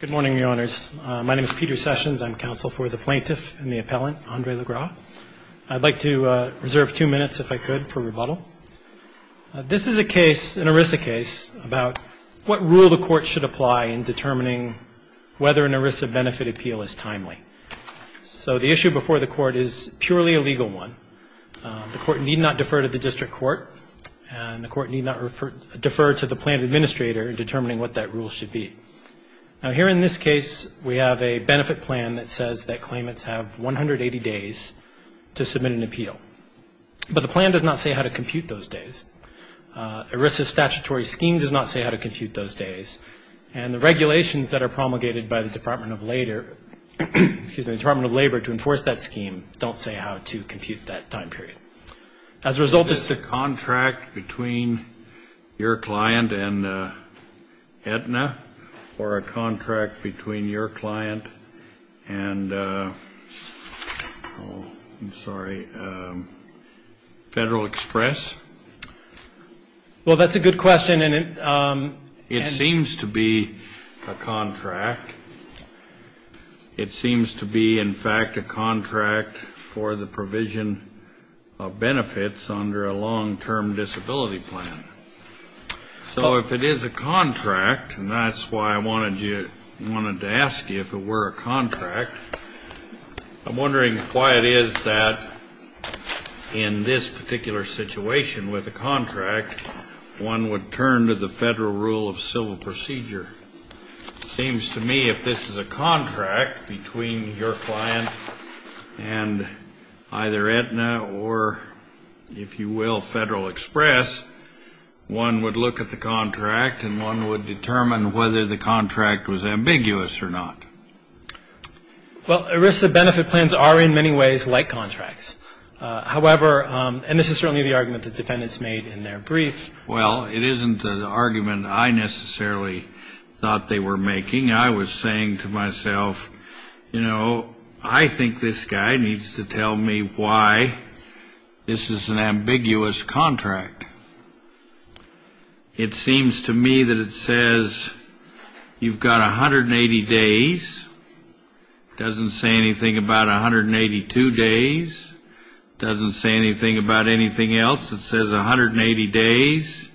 Good morning, Your Honors. My name is Peter Sessions. I'm counsel for the plaintiff and the appellant, Andre Lesgras. I'd like to reserve two minutes, if I could, for rebuttal. This is a case, an ERISA case, about what rule the court should apply in determining whether an ERISA benefit appeal is timely. So the issue before the court is purely a legal one. The court need not defer to the district court, and the court need not defer to the plaintiff administrator in determining what that rule should be. Now, here's the case we have a benefit plan that says that claimants have 180 days to submit an appeal. But the plan does not say how to compute those days. ERISA's statutory scheme does not say how to compute those days, and the regulations that are promulgated by the Department of Labor to enforce that scheme don't say how to compute that time period. As a result, it's the contract between your client and Aetna, or a contract between your client and, oh, I'm sorry, Federal Express? Well, that's a good question. It seems to be a contract. It seems to be, in fact, a contract for the provision of benefits under a long-term disability plan. So if it is a contract, I wanted to ask you if it were a contract, I'm wondering why it is that in this particular situation with a contract, one would turn to the federal rule of civil procedure. It seems to me if this is a contract between your client and either Aetna or, if you will, Federal Express, one would look at the contract and one would determine whether the contract was ambiguous or not. Well, ERISA benefit plans are in many ways like contracts. However, and this is certainly the argument that defendants made in their briefs. Well, it isn't an argument I necessarily thought they were making. I was saying to myself, you know, I think this guy needs to tell me why this is an argument. It seems to me that it says you've got 180 days. It doesn't say anything about 182 days. It doesn't say anything about anything else. It says 180 days.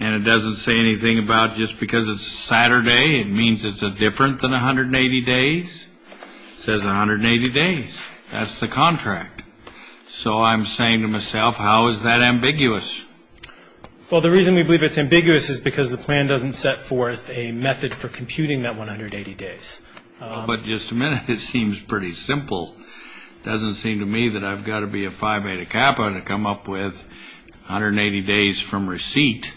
And it doesn't say anything about just because it's Saturday, it means it's different than 180 days. It says 180 days. That's the contract. So I'm saying to myself, how is that ambiguous? Well, the reason we believe it's ambiguous is because the plan doesn't set forth a method for computing that 180 days. Well, but just a minute, it seems pretty simple. It doesn't seem to me that I've got to be a Phi Beta Kappa to come up with 180 days from receipt.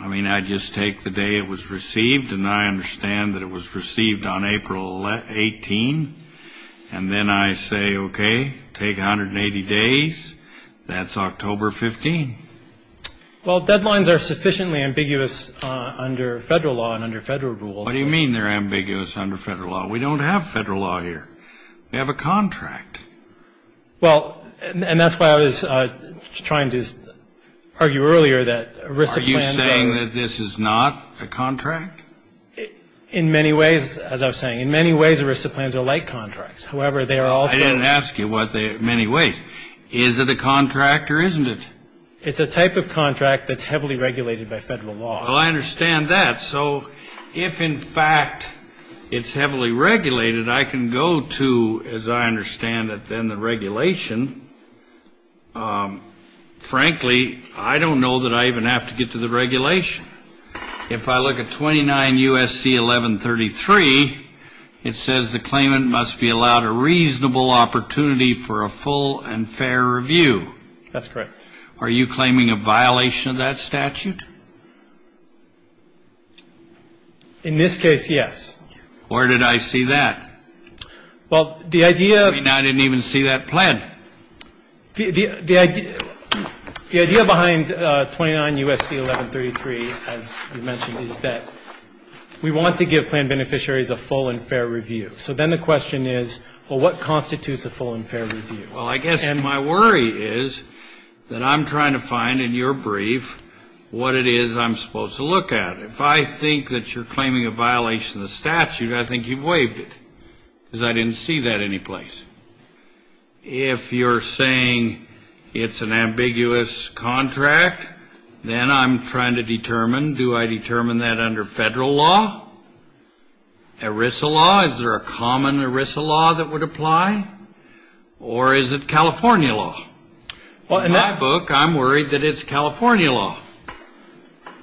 I mean, I just take the day it was received, and I understand that it was received on April 18. And then I say, okay, take 180 days. That's October 15. Well, deadlines are sufficiently ambiguous under federal law and under federal rules. What do you mean they're ambiguous under federal law? We don't have federal law here. We have a contract. Well, and that's why I was trying to argue earlier that a RISA plan. Are you saying that this is not a contract? In many ways, as I was saying, in many ways, RISA plans are like contracts. However, they are also. I didn't ask you what they are in many ways. Is it a contract or isn't it? It's a type of contract that's heavily regulated by federal law. Well, I understand that. So if, in fact, it's heavily regulated, I can go to, as I understand it, then the regulation. Frankly, I don't know that I even have to get to the regulation. If I look at 29 U.S.C. 1133, it says the claimant must be allowed a reasonable opportunity for a full and fair review. That's correct. Are you claiming a violation of that statute? In this case, yes. Where did I see that? Well, the idea of. The idea behind 29 U.S.C. 1133, as you mentioned, is that we want to give plan beneficiaries a full and fair review. So then the question is, well, what constitutes a full and fair review? Well, I guess my worry is that I'm trying to find in your brief what it is I'm supposed to look at. If I think that you're claiming a violation of the statute, I think you've waived it because I didn't see that anyplace. If you're saying it's an ambiguous contract, then I'm trying to determine, do I determine that under federal law? ERISA law? Is there a common ERISA law that would apply? Or is it California law? In my book, I'm worried that it's California law.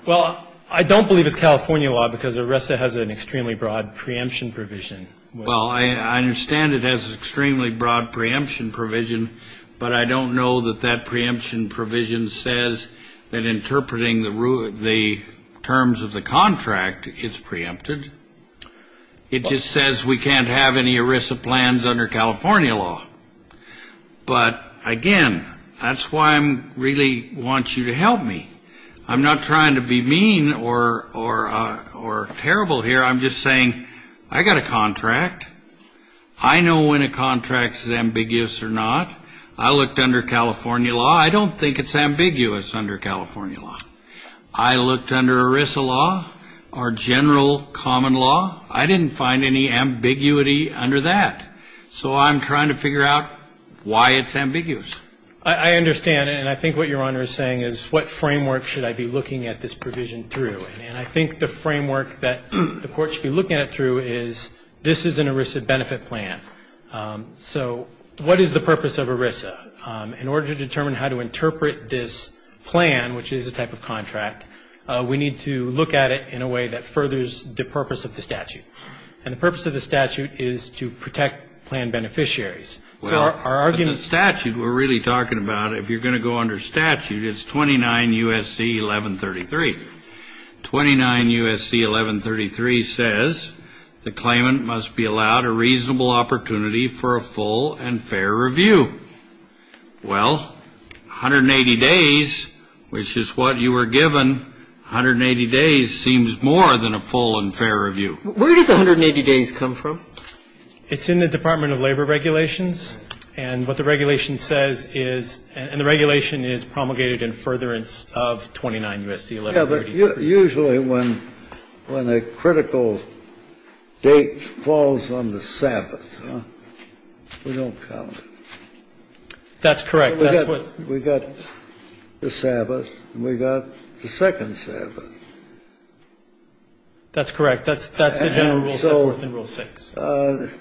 Well, I don't believe it's California law because ERISA has an extremely broad preemption provision. Well, I understand it has an extremely broad preemption provision, but I don't know that that preemption provision says that interpreting the terms of the contract is preempted. It just says we can't have any ERISA plans under California law. But, again, that's why I really want you to help me. I'm not trying to be mean or terrible here. I'm just saying I got a contract. I know when a contract is ambiguous or not. I looked under California law. I don't think it's ambiguous under California law. I looked under ERISA law or general common law. I didn't find any ambiguity under that. So I'm trying to figure out why it's ambiguous. I understand. And I think what Your Honor is saying is what framework should I be looking at this provision through? And I think the framework that the Court should be looking at it through is this is an ERISA benefit plan. So what is the purpose of ERISA? In order to determine how to interpret this plan, which is a type of contract, we need to look at it in a way that furthers the purpose of the statute. And the purpose of the statute is to protect plan beneficiaries. Well, the statute we're really talking about, if you're going to go under statute, it's 29 U.S.C. 1133. 29 U.S.C. 1133 says the claimant must be allowed a reasonable opportunity for a full and fair review. Well, 180 days, which is what you were given, 180 days seems more than a full and fair review. Where does 180 days come from? It's in the Department of Labor regulations. And what the regulation says is the regulation is promulgated in furtherance of 29 U.S.C. 1133. Now, usually when a critical date falls on the Sabbath, we don't count it. That's correct. We've got the Sabbath, and we've got the second Sabbath. That's correct. That's the general rule. And so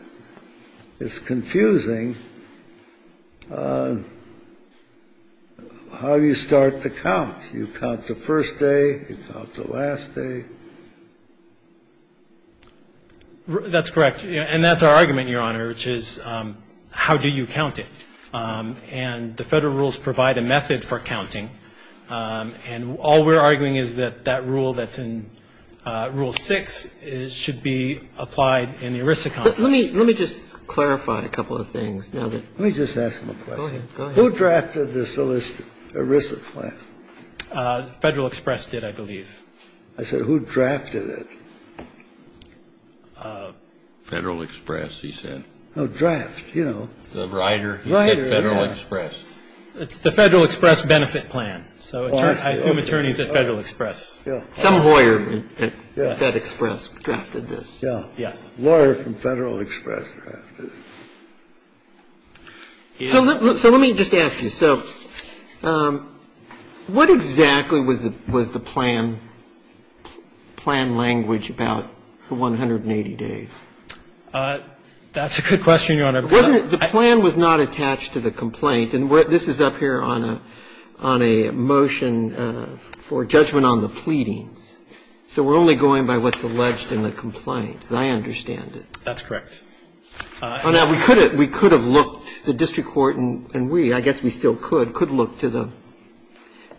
it's confusing how you start to count. You count the first day, you count the last day. That's correct. And that's our argument, Your Honor, which is how do you count it. And the Federal rules provide a method for counting, and all we're arguing is that that rule that's in Rule 6 should be applied in the ERISA complex. Let me just clarify a couple of things. Let me just ask them a question. Go ahead. Who drafted this ERISA plan? Federal Express did, I believe. I said, who drafted it? Federal Express, he said. Oh, draft, you know. The writer. He said Federal Express. It's the Federal Express benefit plan. So I assume attorneys at Federal Express. Yeah. Some lawyer at FedExpress drafted this, yeah. Yes. Lawyer from Federal Express drafted it. So let me just ask you. So what exactly was the plan language about the 180 days? That's a good question, Your Honor. The plan was not attached to the complaint. And this is up here on a motion for judgment on the pleadings. So we're only going by what's alleged in the complaint, as I understand it. That's correct. Well, now, we could have looked, the district court and we, I guess we still could, could look to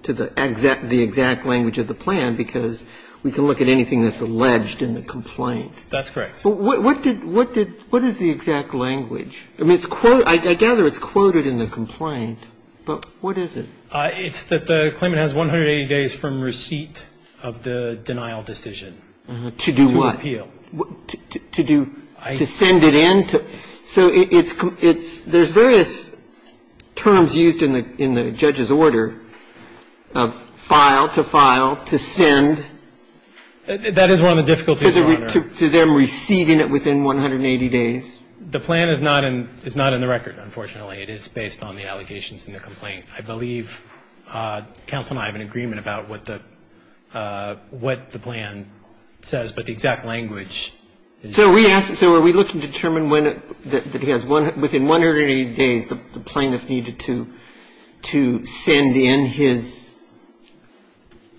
the exact language of the plan, because we can look at anything that's alleged in the complaint. That's correct. What is the exact language? I mean, I gather it's quoted in the complaint, but what is it? It's that the claimant has 180 days from receipt of the denial decision. To do what? To appeal. To do what? To do, to send it in? So it's, there's various terms used in the judge's order of file to file, to send. That is one of the difficulties, Your Honor. To them receding it within 180 days. The plan is not in the record, unfortunately. It is based on the allegations in the complaint. I believe counsel and I have an agreement about what the plan says. But the exact language. So we ask, so are we looking to determine when, that he has, within 180 days, the plaintiff needed to send in his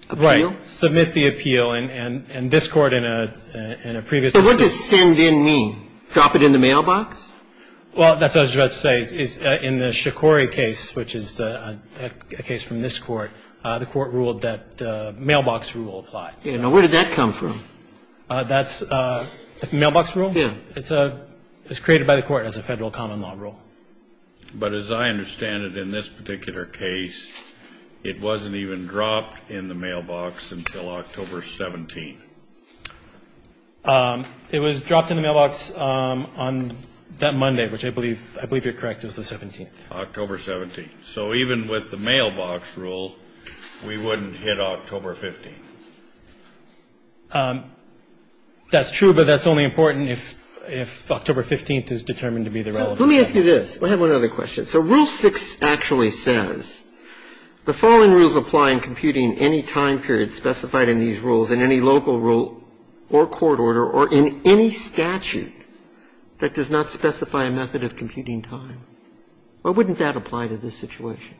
appeal? Right. Submit the appeal. And this Court in a previous instance. So what does send in mean? Drop it in the mailbox? Well, that's what I was about to say. In the Shikori case, which is a case from this Court, the Court ruled that the mailbox rule applies. Now, where did that come from? That's the mailbox rule? Yeah. It's created by the Court as a federal common law rule. But as I understand it, in this particular case, it wasn't even dropped in the mailbox until October 17th. It was dropped in the mailbox on that Monday, which I believe, I believe you're correct, it was the 17th. October 17th. So even with the mailbox rule, we wouldn't hit October 15th. That's true, but that's only important if October 15th is determined to be the relevant date. Let me ask you this. I have one other question. So Rule 6 actually says the following rules apply in computing any time period specified in these rules in any local rule or court order or in any statute that does not specify a method of computing time. Why wouldn't that apply to this situation?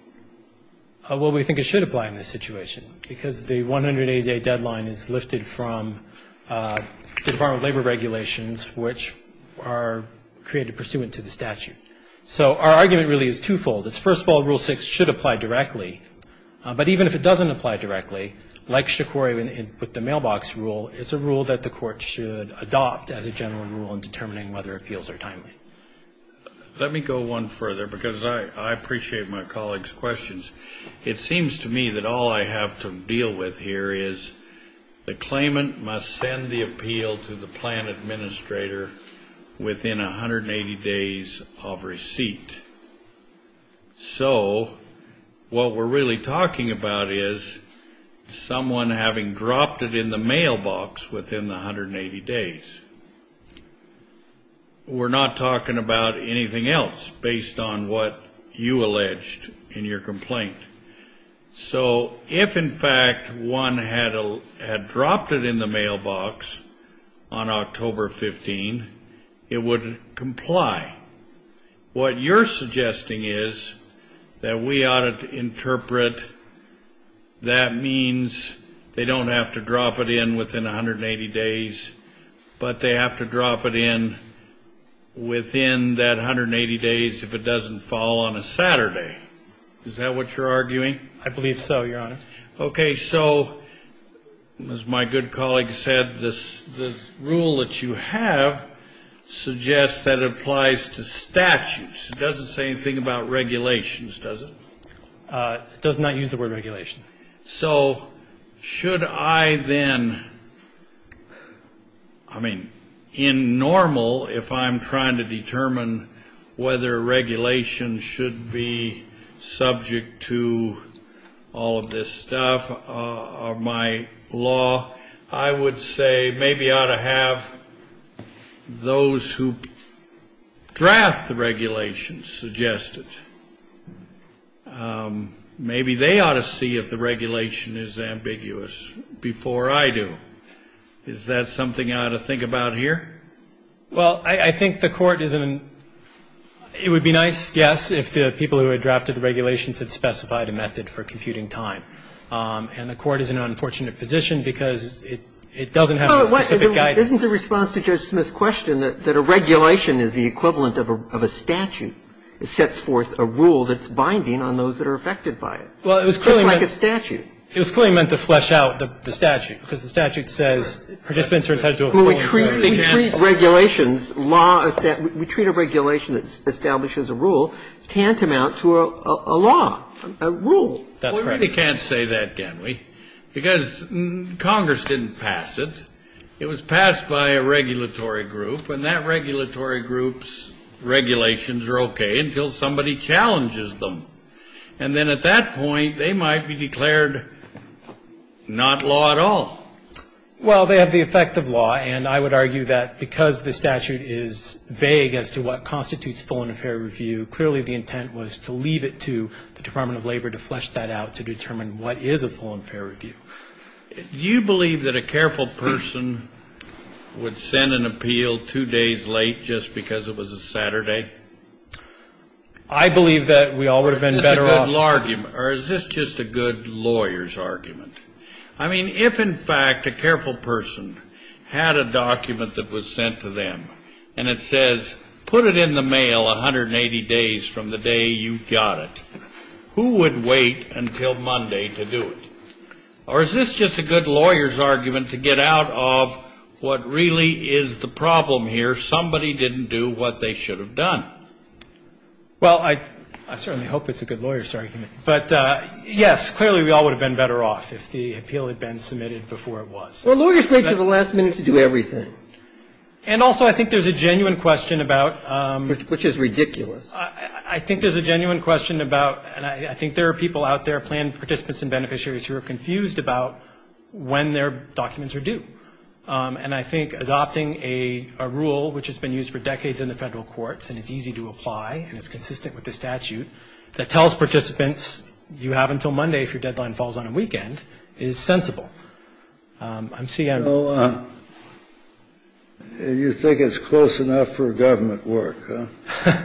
Well, we think it should apply in this situation because the 180-day deadline is lifted from the Department of Labor regulations, which are created pursuant to the statute. So our argument really is twofold. It's first of all, Rule 6 should apply directly. But even if it doesn't apply directly, like Shikori with the mailbox rule, it's a rule that the Court should adopt as a general rule in determining whether appeals are timely. Let me go one further because I appreciate my colleagues' questions. It seems to me that all I have to deal with here is the claimant must send the appeal to the plan administrator within 180 days of receipt. So what we're really talking about is someone having dropped it in the mailbox within the 180 days. We're not talking about anything else based on what you alleged in your complaint. So if, in fact, one had dropped it in the mailbox on October 15, it would comply. What you're suggesting is that we ought to interpret that means they don't have to drop it in within 180 days, but they have to drop it in within that 180 days if it doesn't fall on a Saturday. Is that what you're arguing? I believe so, Your Honor. Okay. So as my good colleague said, the rule that you have suggests that it applies to statutes. It doesn't say anything about regulations, does it? It does not use the word regulation. So should I then, I mean, in normal, if I'm trying to determine whether regulations should be subject to all of this stuff, of my law, I would say maybe I ought to have those who draft the regulations suggest it. Maybe they ought to see if the regulation is ambiguous before I do. Is that something I ought to think about here? Well, I think the Court is in an ‑‑ it would be nice, yes, if the people who had drafted the regulations had specified a method for computing time. And the Court is in an unfortunate position because it doesn't have the specific guidance. Isn't the response to Judge Smith's question that a regulation is the equivalent of a statute? It sets forth a rule that's binding on those that are affected by it. Well, it was clearly meant to ‑‑ Just like a statute. It was clearly meant to flesh out the statute. Because the statute says participants are entitled to a full ‑‑ Well, we treat regulations, law, we treat a regulation that establishes a rule tantamount to a law, a rule. That's correct. Well, we really can't say that, can we? Because Congress didn't pass it. It was passed by a regulatory group. And that regulatory group's regulations are okay until somebody challenges them. And then at that point, they might be declared not law at all. Well, they have the effect of law. And I would argue that because the statute is vague as to what constitutes full and fair review, clearly the intent was to leave it to the Department of Labor to flesh that out, to determine what is a full and fair review. Do you believe that a careful person would send an appeal two days late just because it was a Saturday? I believe that we all would have been better off. Or is this just a good lawyer's argument? I mean, if in fact a careful person had a document that was sent to them, and it says put it in the mail 180 days from the day you got it, who would wait until Monday to do it? Or is this just a good lawyer's argument to get out of what really is the problem here? Somebody didn't do what they should have done. Well, I certainly hope it's a good lawyer's argument. But, yes, clearly we all would have been better off if the appeal had been submitted before it was. Well, lawyers wait until the last minute to do everything. And also I think there's a genuine question about — Which is ridiculous. I think there's a genuine question about, and I think there are people out there, planned participants and beneficiaries, who are confused about when their documents are due. And I think adopting a rule, which has been used for decades in the federal courts and is easy to apply and is consistent with the statute, that tells participants you have until Monday if your deadline falls on a weekend is sensible. I'm seeing — So you think it's close enough for government work, huh?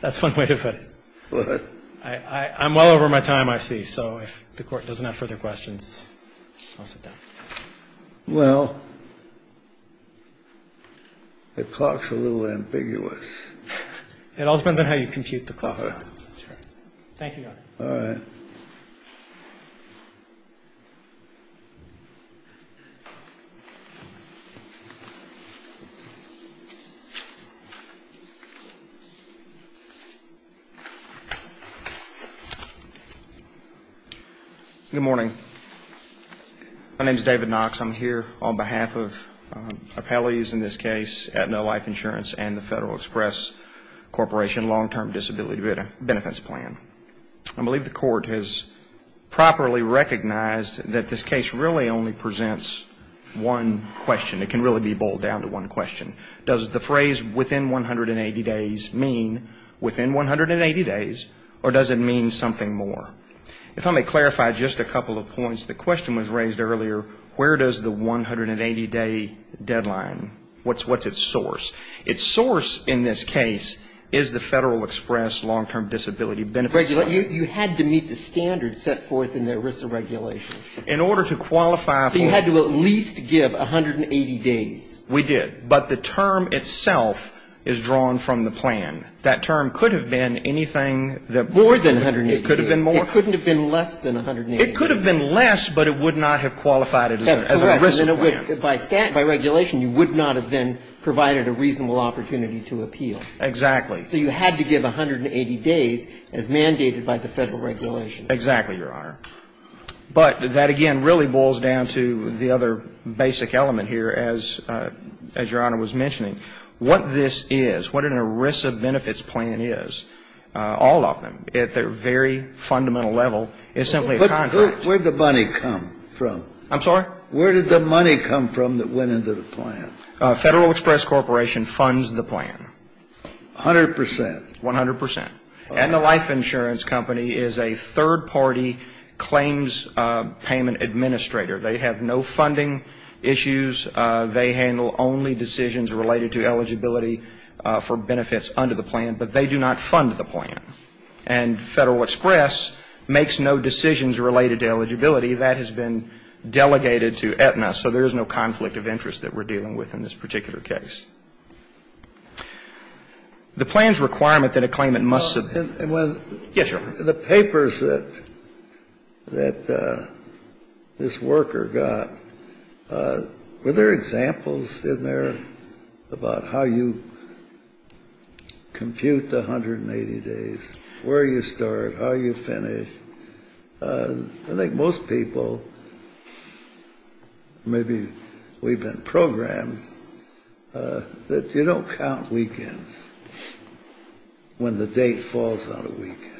That's one way to put it. I'm well over my time, I see. So if the Court doesn't have further questions, I'll sit down. Well, the clock's a little ambiguous. It all depends on how you compute the clock. Thank you, Your Honor. All right. Good morning. My name's David Knox. I'm here on behalf of appellees in this case at No Life Insurance and the Federal Express Corporation Long-Term Disability Benefits Plan. I believe the Court has properly recognized that this case really only presents one question. It can really be boiled down to one question. Does the phrase within 180 days mean within 180 days, or does it mean something more? If I may clarify just a couple of points. The question was raised earlier, where does the 180-day deadline, what's its source? Its source in this case is the Federal Express Long-Term Disability Benefits Plan. You had to meet the standards set forth in the ERISA regulation. In order to qualify for — So you had to at least give 180 days. We did. But the term itself is drawn from the plan. That term could have been anything that — More than 180 days. It could have been more. It couldn't have been less than 180 days. It could have been less, but it would not have qualified as an ERISA plan. That's correct. By regulation, you would not have then provided a reasonable opportunity to appeal. Exactly. So you had to give 180 days as mandated by the Federal regulation. Exactly, Your Honor. But that, again, really boils down to the other basic element here, as Your Honor was mentioning. What this is, what an ERISA benefits plan is, all of them, at their very fundamental level, is simply a contract. But where did the money come from? I'm sorry? Where did the money come from that went into the plan? Federal Express Corporation funds the plan. A hundred percent. One hundred percent. And the life insurance company is a third-party claims payment administrator. They have no funding issues. They handle only decisions related to eligibility for benefits under the plan. But they do not fund the plan. And Federal Express makes no decisions related to eligibility. That has been delegated to Aetna. So there is no conflict of interest that we're dealing with in this particular case. The plan's requirement that a claimant must submit. Yes, Your Honor. The papers that this worker got, were there examples in there about how you compute the 180 days, where you start, how you finish? I think most people, maybe we've been programmed, that you don't count weekends when the date falls on a weekend.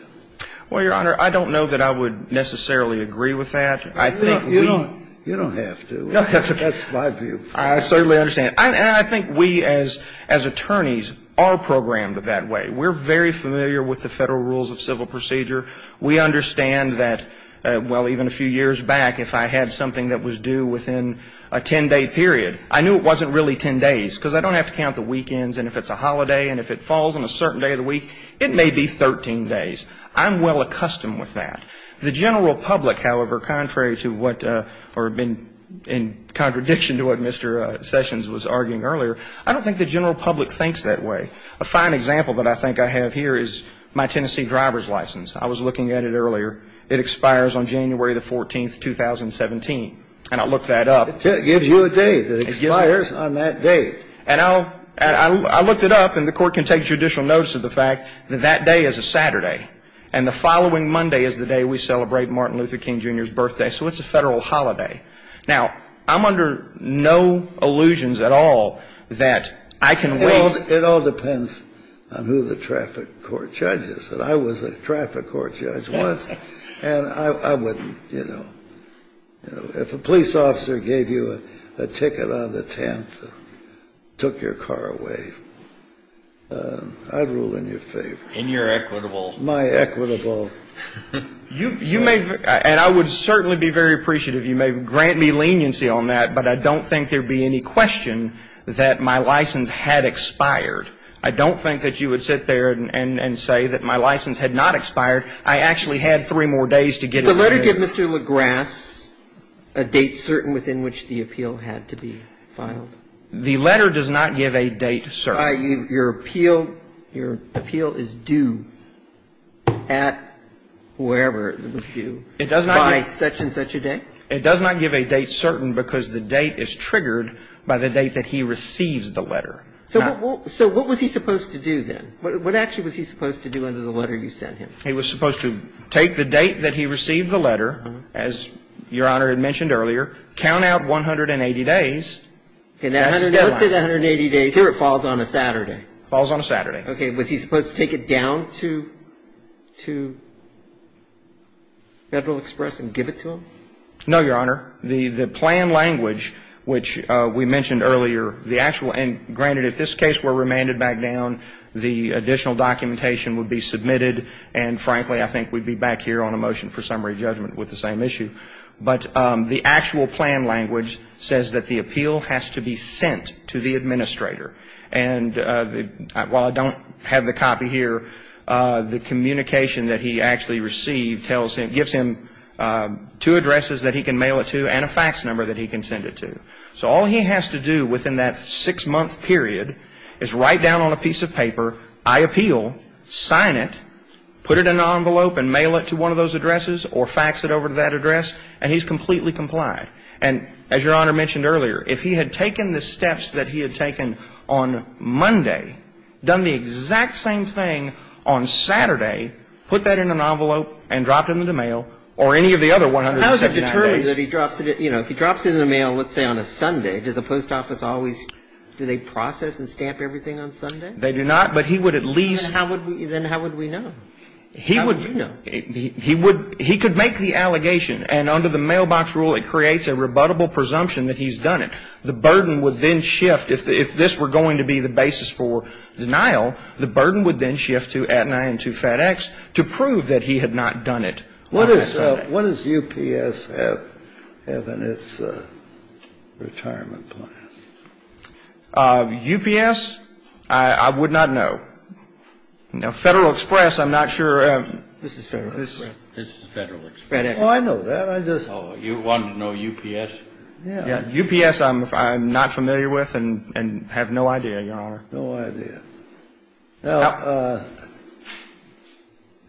Well, Your Honor, I don't know that I would necessarily agree with that. I think we You don't have to. That's my view. I certainly understand. And I think we, as attorneys, are programmed that way. We're very familiar with the Federal Rules of Civil Procedure. We understand that, well, even a few years back, if I had something that was due within a 10-day period, I knew it wasn't really 10 days. Because I don't have to count the weekends. And if it's a holiday, and if it falls on a certain day of the week, it may be 13 days. I'm well accustomed with that. The general public, however, contrary to what, or in contradiction to what Mr. Sessions was arguing earlier, I don't think the general public thinks that way. A fine example that I think I have here is my Tennessee driver's license. I was looking at it earlier. It expires on January the 14th, 2017. And I looked that up. It gives you a date. It expires on that date. And I looked it up, and the Court can take judicial notice of the fact that that day is a Saturday. And the following Monday is the day we celebrate Martin Luther King, Jr.'s birthday. So it's a Federal holiday. Now, I'm under no illusions at all that I can wait until that day. It all depends on who the traffic court judge is. And I was a traffic court judge once. And I wouldn't, you know. If a police officer gave you a ticket on the 10th and took your car away, I'd rule in your favor. In your equitable. My equitable. You may, and I would certainly be very appreciative if you may grant me leniency on that. But I don't think there would be any question that my license had expired. I don't think that you would sit there and say that my license had not expired. I actually had three more days to get it expired. Did the letter give Mr. Legrasse a date certain within which the appeal had to be filed? The letter does not give a date certain. Your appeal is due at wherever it was due by such and such a day? It does not give a date certain because the date is triggered by the date that he receives the letter. So what was he supposed to do then? What actually was he supposed to do under the letter you sent him? He was supposed to take the date that he received the letter, as Your Honor had mentioned earlier, count out 180 days. That's the deadline. Let's say 180 days. Here it falls on a Saturday. Falls on a Saturday. Okay. And was he supposed to take it down to Federal Express and give it to him? No, Your Honor. The plan language, which we mentioned earlier, the actual end, granted, if this case were remanded back down, the additional documentation would be submitted and, frankly, I think we'd be back here on a motion for summary judgment with the same issue. But the actual plan language says that the appeal has to be sent to the administrator. And while I don't have the copy here, the communication that he actually received tells him, gives him two addresses that he can mail it to and a fax number that he can send it to. So all he has to do within that six-month period is write down on a piece of paper, I appeal, sign it, put it in an envelope and mail it to one of those addresses or fax it over to that address, and he's completely complied. And as Your Honor mentioned earlier, if he had taken the steps that he had taken on Monday, done the exact same thing on Saturday, put that in an envelope and dropped it in the mail or any of the other 179 days. How is it determined that he drops it? You know, if he drops it in the mail, let's say on a Sunday, does the post office always do they process and stamp everything on Sunday? They do not, but he would at least – He would – How would we know? Well, I'd say that he would at least have the certification and under the mailbox rule, it creates a rebuttable presumption that he's done it. The burden would then shift. If this were going to be the basis for denial, the burden would then shift to Atenae and to FedEx to prove that he had not done it. What is UPS have in its retirement plan? UPS, I would not know. Now, Federal Express, I'm not sure – This is Federal Express. This is Federal Express. Oh, I know that. I just – Oh, you want to know UPS? Yeah. UPS, I'm not familiar with and have no idea, Your Honor. No idea. Now,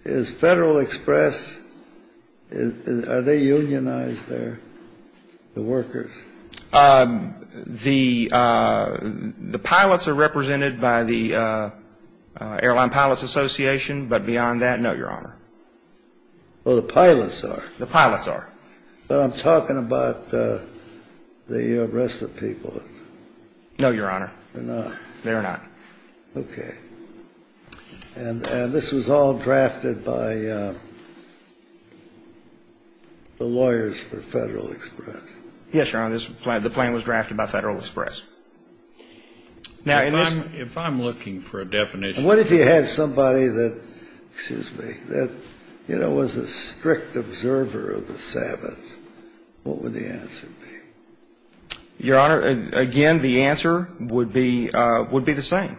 is Federal Express – are they unionized there, the workers? The pilots are represented by the Airline Pilots Association, but beyond that, no, Your Honor. Oh, the pilots are? The pilots are. But I'm talking about the rest of the people. No, Your Honor. They're not? They're not. Okay. And this was all drafted by the lawyers for Federal Express? Yes, Your Honor. The plan was drafted by Federal Express. Now, in this – If I'm looking for a definition – What if you had somebody that, excuse me, that, you know, was a strict observer of the Sabbath? What would the answer be? Your Honor, again, the answer would be the same.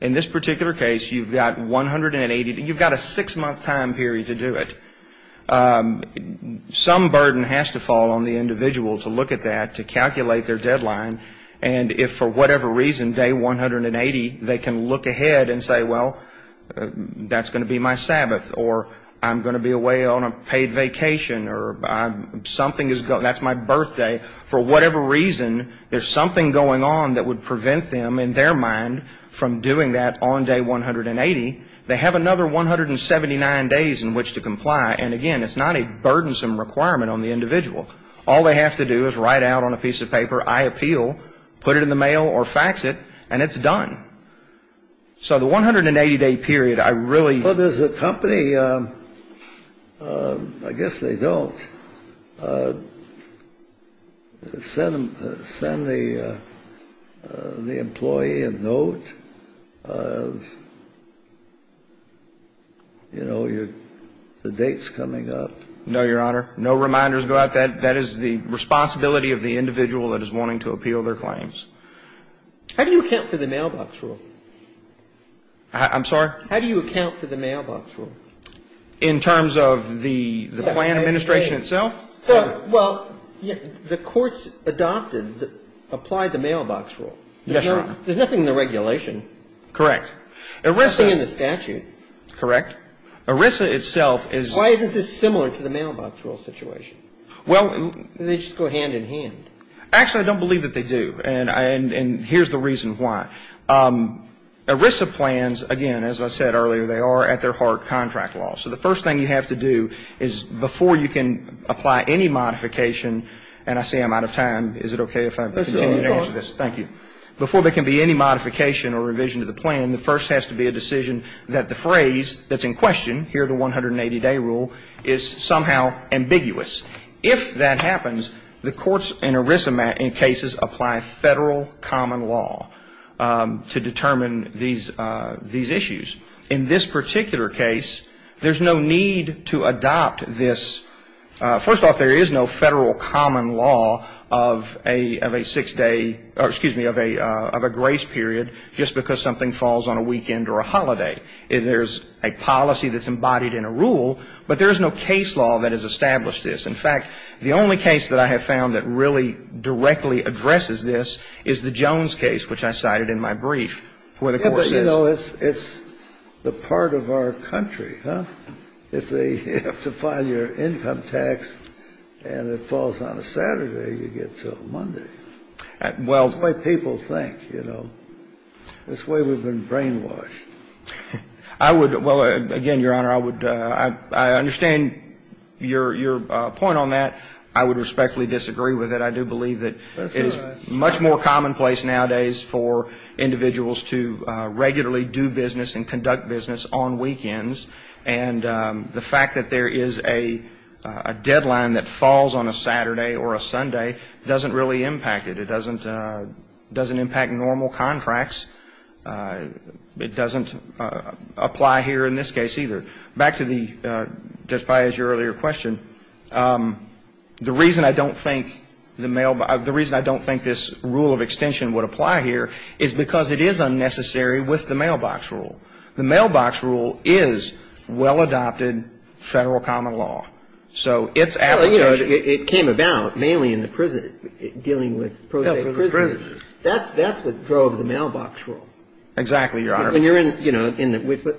In this particular case, you've got 180 – you've got a six-month time period to do it. Some burden has to fall on the individual to look at that, to calculate their deadline, and if for whatever reason, day 180, they can look ahead and say, well, that's going to be my Sabbath, or I'm going to be away on a paid vacation, or something is – that's my birthday. For whatever reason, there's something going on that would prevent them, in their mind, from doing that on day 180. They have another 179 days in which to comply. And again, it's not a burdensome requirement on the individual. All they have to do is write out on a piece of paper, I appeal, put it in the mail or fax it, and it's done. So the 180-day period, I really – Well, does the company – I guess they don't – send the employee a note of, you know, the date's coming up? No, Your Honor. No reminders go out. That is the responsibility of the individual that is wanting to appeal their claims. How do you account for the mailbox rule? I'm sorry? How do you account for the mailbox rule? In terms of the plan administration itself? Well, the courts adopted – applied the mailbox rule. Yes, Your Honor. There's nothing in the regulation. Correct. Nothing in the statute. Correct. ERISA itself is – Why isn't this similar to the mailbox rule situation? Well – They just go hand in hand. Actually, I don't believe that they do. And here's the reason why. ERISA plans, again, as I said earlier, they are at their heart contract law. So the first thing you have to do is before you can apply any modification – and I see I'm out of time. Is it okay if I continue to answer this? Of course. Thank you. Before there can be any modification or revision to the plan, the first has to be a decision that the phrase that's in question, here the 180-day rule, is somehow ambiguous. If that happens, the courts in ERISA cases apply federal common law to determine these issues. In this particular case, there's no need to adopt this – first off, there is no federal common law of a six-day – or, excuse me, of a grace period just because something falls on a weekend or a holiday. There's a policy that's embodied in a rule, but there's no case law that has established this. In fact, the only case that I have found that really directly addresses this is the Jones case, which I cited in my brief. Yeah, but, you know, it's the part of our country, huh? If they have to file your income tax and it falls on a Saturday, you get till Monday. Well – That's the way people think, you know. That's the way we've been brainwashed. I would – well, again, Your Honor, I understand your point on that. I would respectfully disagree with it. I do believe that it is much more commonplace nowadays for individuals to regularly do business and conduct business on weekends. And the fact that there is a deadline that falls on a Saturday or a Sunday doesn't really impact it. It doesn't impact normal contracts. It doesn't apply here in this case either. Back to the – just as your earlier question, the reason I don't think the mail – the reason I don't think this rule of extension would apply here is because it is unnecessary with the mailbox rule. The mailbox rule is well-adopted federal common law. So its application – Well, you know, it came about mainly in the prison – dealing with pro se prisoners. That's what drove the mailbox rule. Exactly, Your Honor. When you're in – you know,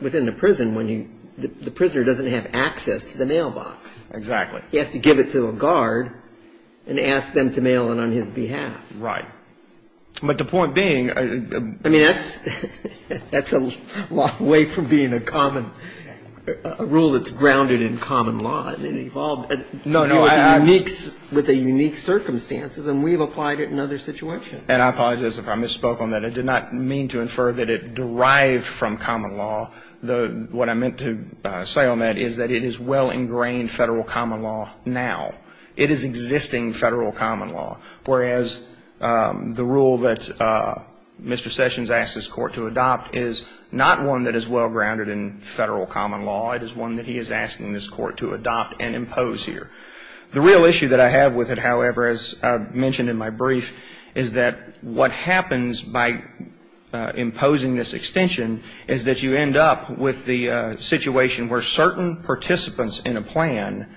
within the prison when you – the prisoner doesn't have access to the mailbox. Exactly. He has to give it to a guard and ask them to mail it on his behalf. Right. But the point being – I mean, that's a long way from being a common – a rule that's grounded in common law. I mean, it evolved with the unique circumstances, and we've applied it in other situations. And I apologize if I misspoke on that. I did not mean to infer that it derived from common law. What I meant to say on that is that it is well-ingrained federal common law now. It is existing federal common law. Whereas the rule that Mr. Sessions asked this Court to adopt is not one that is well-grounded in federal common law. It is one that he is asking this Court to adopt and impose here. The real issue that I have with it, however, as I mentioned in my brief, is that what happens by imposing this extension is that you end up with the situation where certain participants in a plan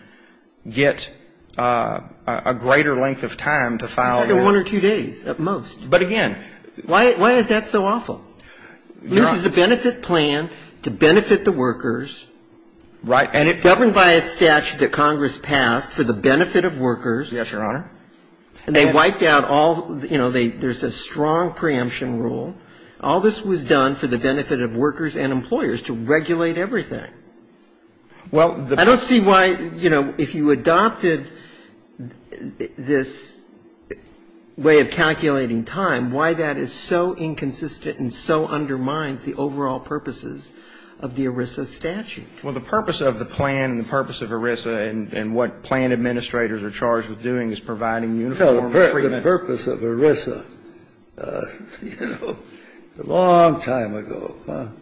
get a greater length of time to file their – Under one or two days at most. But, again – Why is that so awful? This is a benefit plan to benefit the workers. Right. Governed by a statute that Congress passed for the benefit of workers. Yes, Your Honor. And they wiped out all – you know, there's a strong preemption rule. All this was done for the benefit of workers and employers to regulate everything. Well, the – I don't see why, you know, if you adopted this way of calculating time, why that is so inconsistent and so undermines the overall purposes of the ERISA statute. Well, the purpose of the plan and the purpose of ERISA and what plan administrators are charged with doing is providing uniform – No, the purpose of ERISA, you know, a long time ago,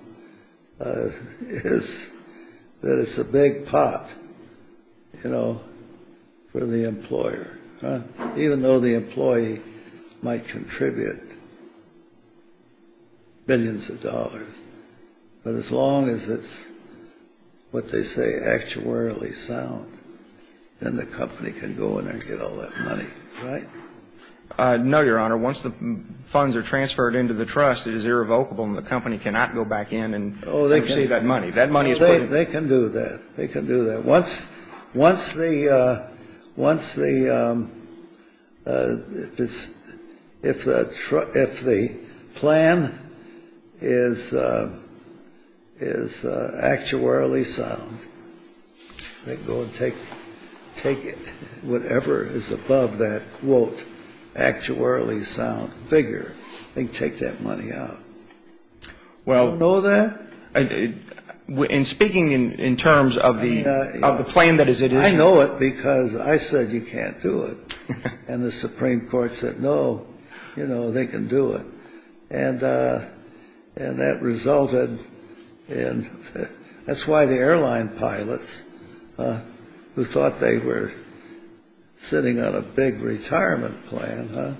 is that it's a big pot, you know, for the employer. Even though the employee might contribute billions of dollars. But as long as it's what they say actuarially sound, then the company can go in and get all that money. Right? No, Your Honor. Once the funds are transferred into the trust, it is irrevocable and the company cannot go back in and receive that money. That money is put in – They can do that. They can do that. Once the – if the plan is actuarially sound, they can go and take it. Whatever is above that quote, actuarially sound figure, they can take that money out. Well – You know that? And speaking in terms of the plan that is – I know it because I said you can't do it. And the Supreme Court said, no, you know, they can do it. And that resulted in – that's why the airline pilots, who thought they were sitting on a big retirement plan,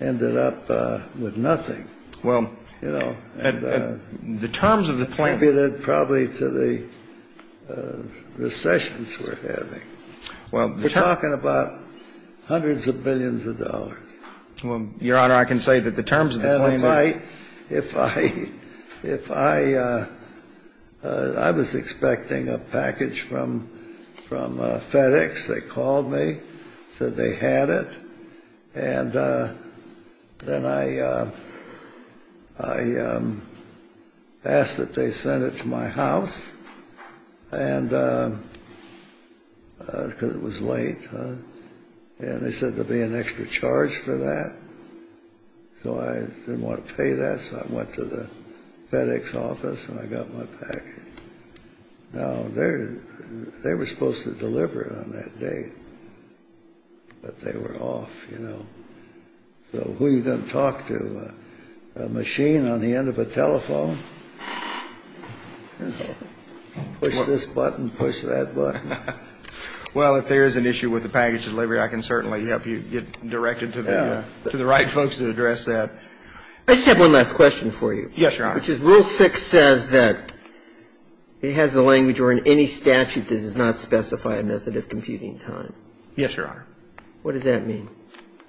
ended up with nothing. Well – You know – The terms of the plan – Added probably to the recessions we're having. Well – We're talking about hundreds of billions of dollars. Well, Your Honor, I can say that the terms of the plan – If I – if I – I was expecting a package from FedEx. They called me, said they had it. And then I asked that they send it to my house. And – because it was late. And they said there would be an extra charge for that. So I didn't want to pay that, so I went to the FedEx office and I got my package. Now, they were supposed to deliver it on that day. But they were off, you know. So who are you going to talk to? A machine on the end of a telephone? You know, push this button, push that button. Well, if there is an issue with the package delivery, I can certainly help you get directed to the right folks to address that. I just have one last question for you. Yes, Your Honor. Which is Rule 6 says that it has the language or in any statute that it does not specify a method of computing time. Yes, Your Honor. What does that mean?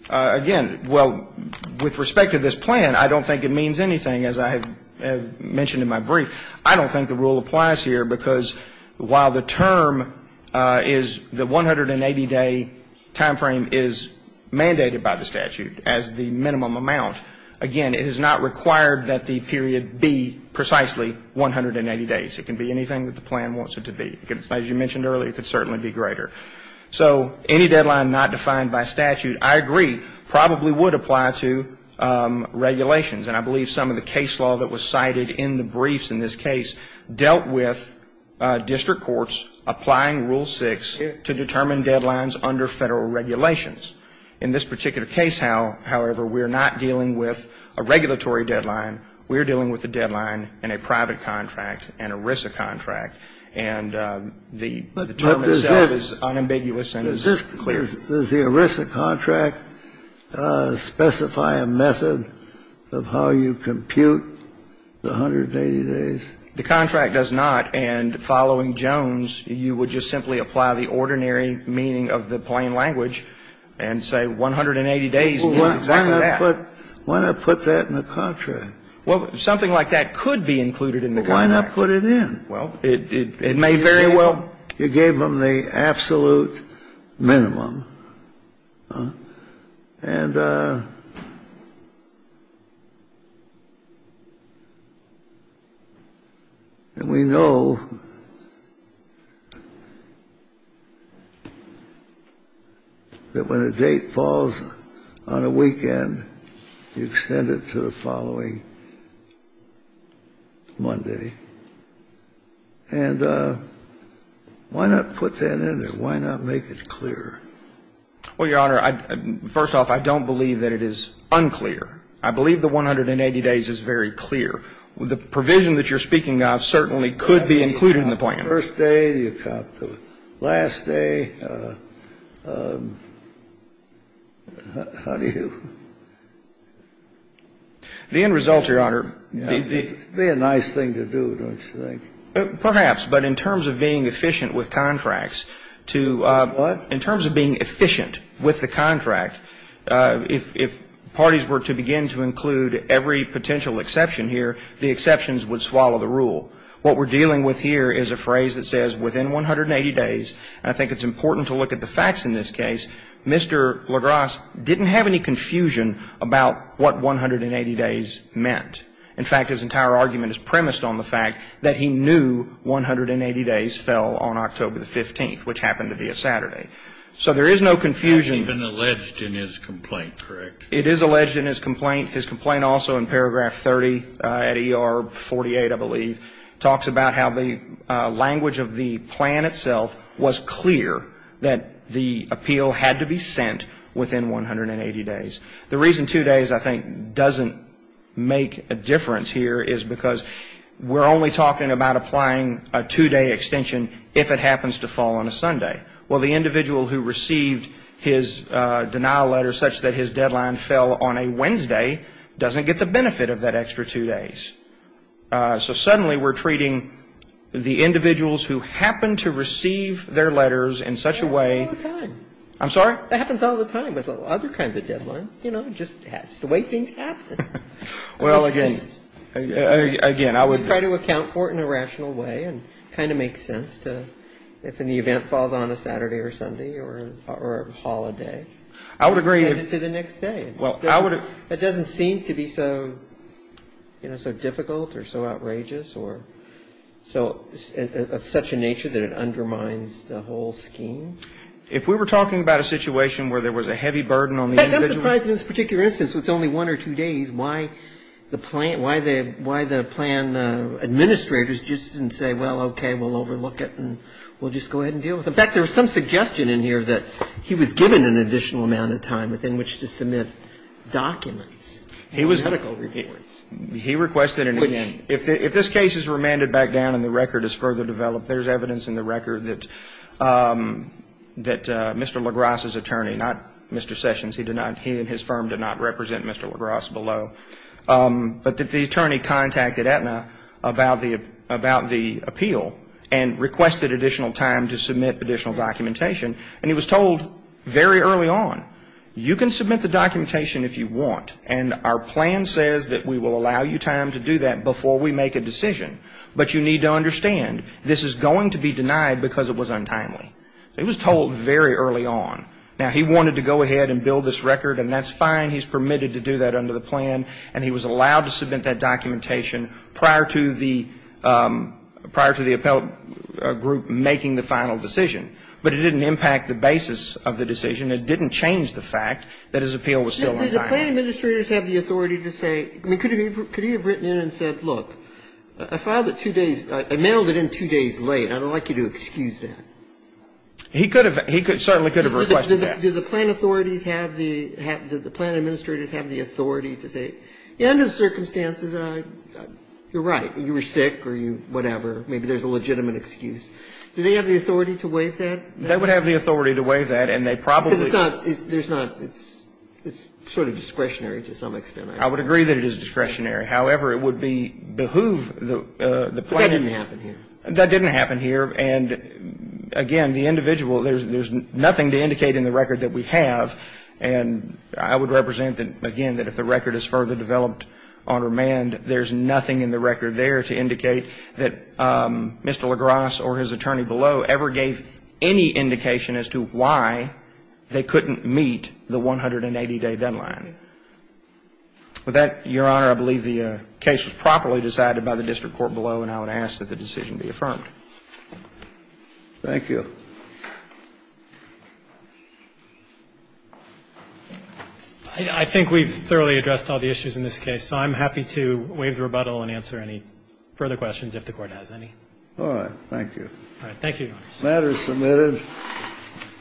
Again, well, with respect to this plan, I don't think it means anything, as I have mentioned in my brief. I don't think the rule applies here because while the term is the 180-day timeframe is mandated by the statute as the minimum amount, again, it is not required that the period be precisely 180 days. It can be anything that the plan wants it to be. As you mentioned earlier, it could certainly be greater. So any deadline not defined by statute, I agree, probably would apply to regulations. And I believe some of the case law that was cited in the briefs in this case dealt with district courts applying Rule 6 to determine deadlines under Federal regulations. In this particular case, however, we are not dealing with a regulatory deadline. We are dealing with a deadline in a private contract, an ERISA contract. And the term itself is unambiguous and is clear. So does the ERISA contract specify a method of how you compute the 180 days? The contract does not. And following Jones, you would just simply apply the ordinary meaning of the plain language and say 180 days means exactly that. Why not put that in the contract? Well, something like that could be included in the contract. Why not put it in? Well, it may very well. You gave them the absolute minimum. And we know that when a date falls on a weekend, you extend it to the following Monday. And why not put that in and why not make it clear? Well, Your Honor, first off, I don't believe that it is unclear. I believe the 180 days is very clear. The provision that you're speaking of certainly could be included in the plan. First day, you count the last day. How do you? The end result, Your Honor. It would be a nice thing to do, don't you think? Perhaps. But in terms of being efficient with contracts, to ---- What? In terms of being efficient with the contract, if parties were to begin to include every potential exception here, the exceptions would swallow the rule. What we're dealing with here is a phrase that says, within 180 days, and I think it's important to look at the facts in this case, Mr. Lagrasse didn't have any confusion about what 180 days meant. In fact, his entire argument is premised on the fact that he knew 180 days fell on October 15th, which happened to be a Saturday. So there is no confusion. That's even alleged in his complaint, correct? It is alleged in his complaint. His complaint also in paragraph 30 at ER 48, I believe, talks about how the language of the plan itself was clear that the appeal had to be sent within 180 days. The reason two days, I think, doesn't make a difference here is because we're only talking about applying a two-day extension if it happens to fall on a Sunday. Well, the individual who received his denial letter such that his deadline fell on a Wednesday doesn't get the benefit of that extra two days. So suddenly we're treating the individuals who happen to receive their letters in such a way ---- That happens all the time. I'm sorry? You know, just the way things happen. Well, again, again, I would ---- We try to account for it in a rational way and kind of make sense to if the event falls on a Saturday or Sunday or a holiday. I would agree. We send it to the next day. Well, I would ---- It doesn't seem to be so, you know, so difficult or so outrageous or so of such a nature that it undermines the whole scheme. If we were talking about a situation where there was a heavy burden on the individual ---- But I don't realize in this particular instance, it's only one or two days, why the plan administrators just didn't say, well, okay, we'll overlook it and we'll just go ahead and deal with it. In fact, there was some suggestion in here that he was given an additional amount of time within which to submit documents. He was ---- Medical reports. He requested an ---- Which ---- If this case is remanded back down and the record is further developed, there's evidence in the record that Mr. LaGrasse's attorney, not Mr. Sessions, he did not ---- he and his firm did not represent Mr. LaGrasse below, but that the attorney contacted Aetna about the appeal and requested additional time to submit additional documentation. And he was told very early on, you can submit the documentation if you want, and our plan says that we will allow you time to do that before we make a decision. But you need to understand, this is going to be denied because it was untimely. It was told very early on. Now, he wanted to go ahead and build this record, and that's fine. He's permitted to do that under the plan. And he was allowed to submit that documentation prior to the appellate group making the final decision. But it didn't impact the basis of the decision. It didn't change the fact that his appeal was still untimely. The plan administrators have the authority to say ---- I mean, could he have written in and said, look, I filed it two days ---- I mailed it in two days late. I don't like you to excuse that. He could have. He certainly could have requested that. Do the plan authorities have the ---- do the plan administrators have the authority to say, under the circumstances, you're right, you were sick or whatever, maybe there's a legitimate excuse. Do they have the authority to waive that? They would have the authority to waive that, and they probably ---- Because it's not ---- there's not ---- it's sort of discretionary to some extent. I would agree that it is discretionary. However, it would behoove the plan ---- But that didn't happen here. That didn't happen here. And, again, the individual ---- there's nothing to indicate in the record that we have. And I would represent, again, that if the record is further developed on remand, there's nothing in the record there to indicate that Mr. LaGrasse or his attorney below ever gave any indication as to why they couldn't meet the 180-day deadline. With that, Your Honor, I believe the case was properly decided by the district court below, and I would ask that the decision be affirmed. Thank you. I think we've thoroughly addressed all the issues in this case, so I'm happy to waive the rebuttal and answer any further questions if the Court has any. All right. Thank you. All right. Thank you. Thank you. Thank you.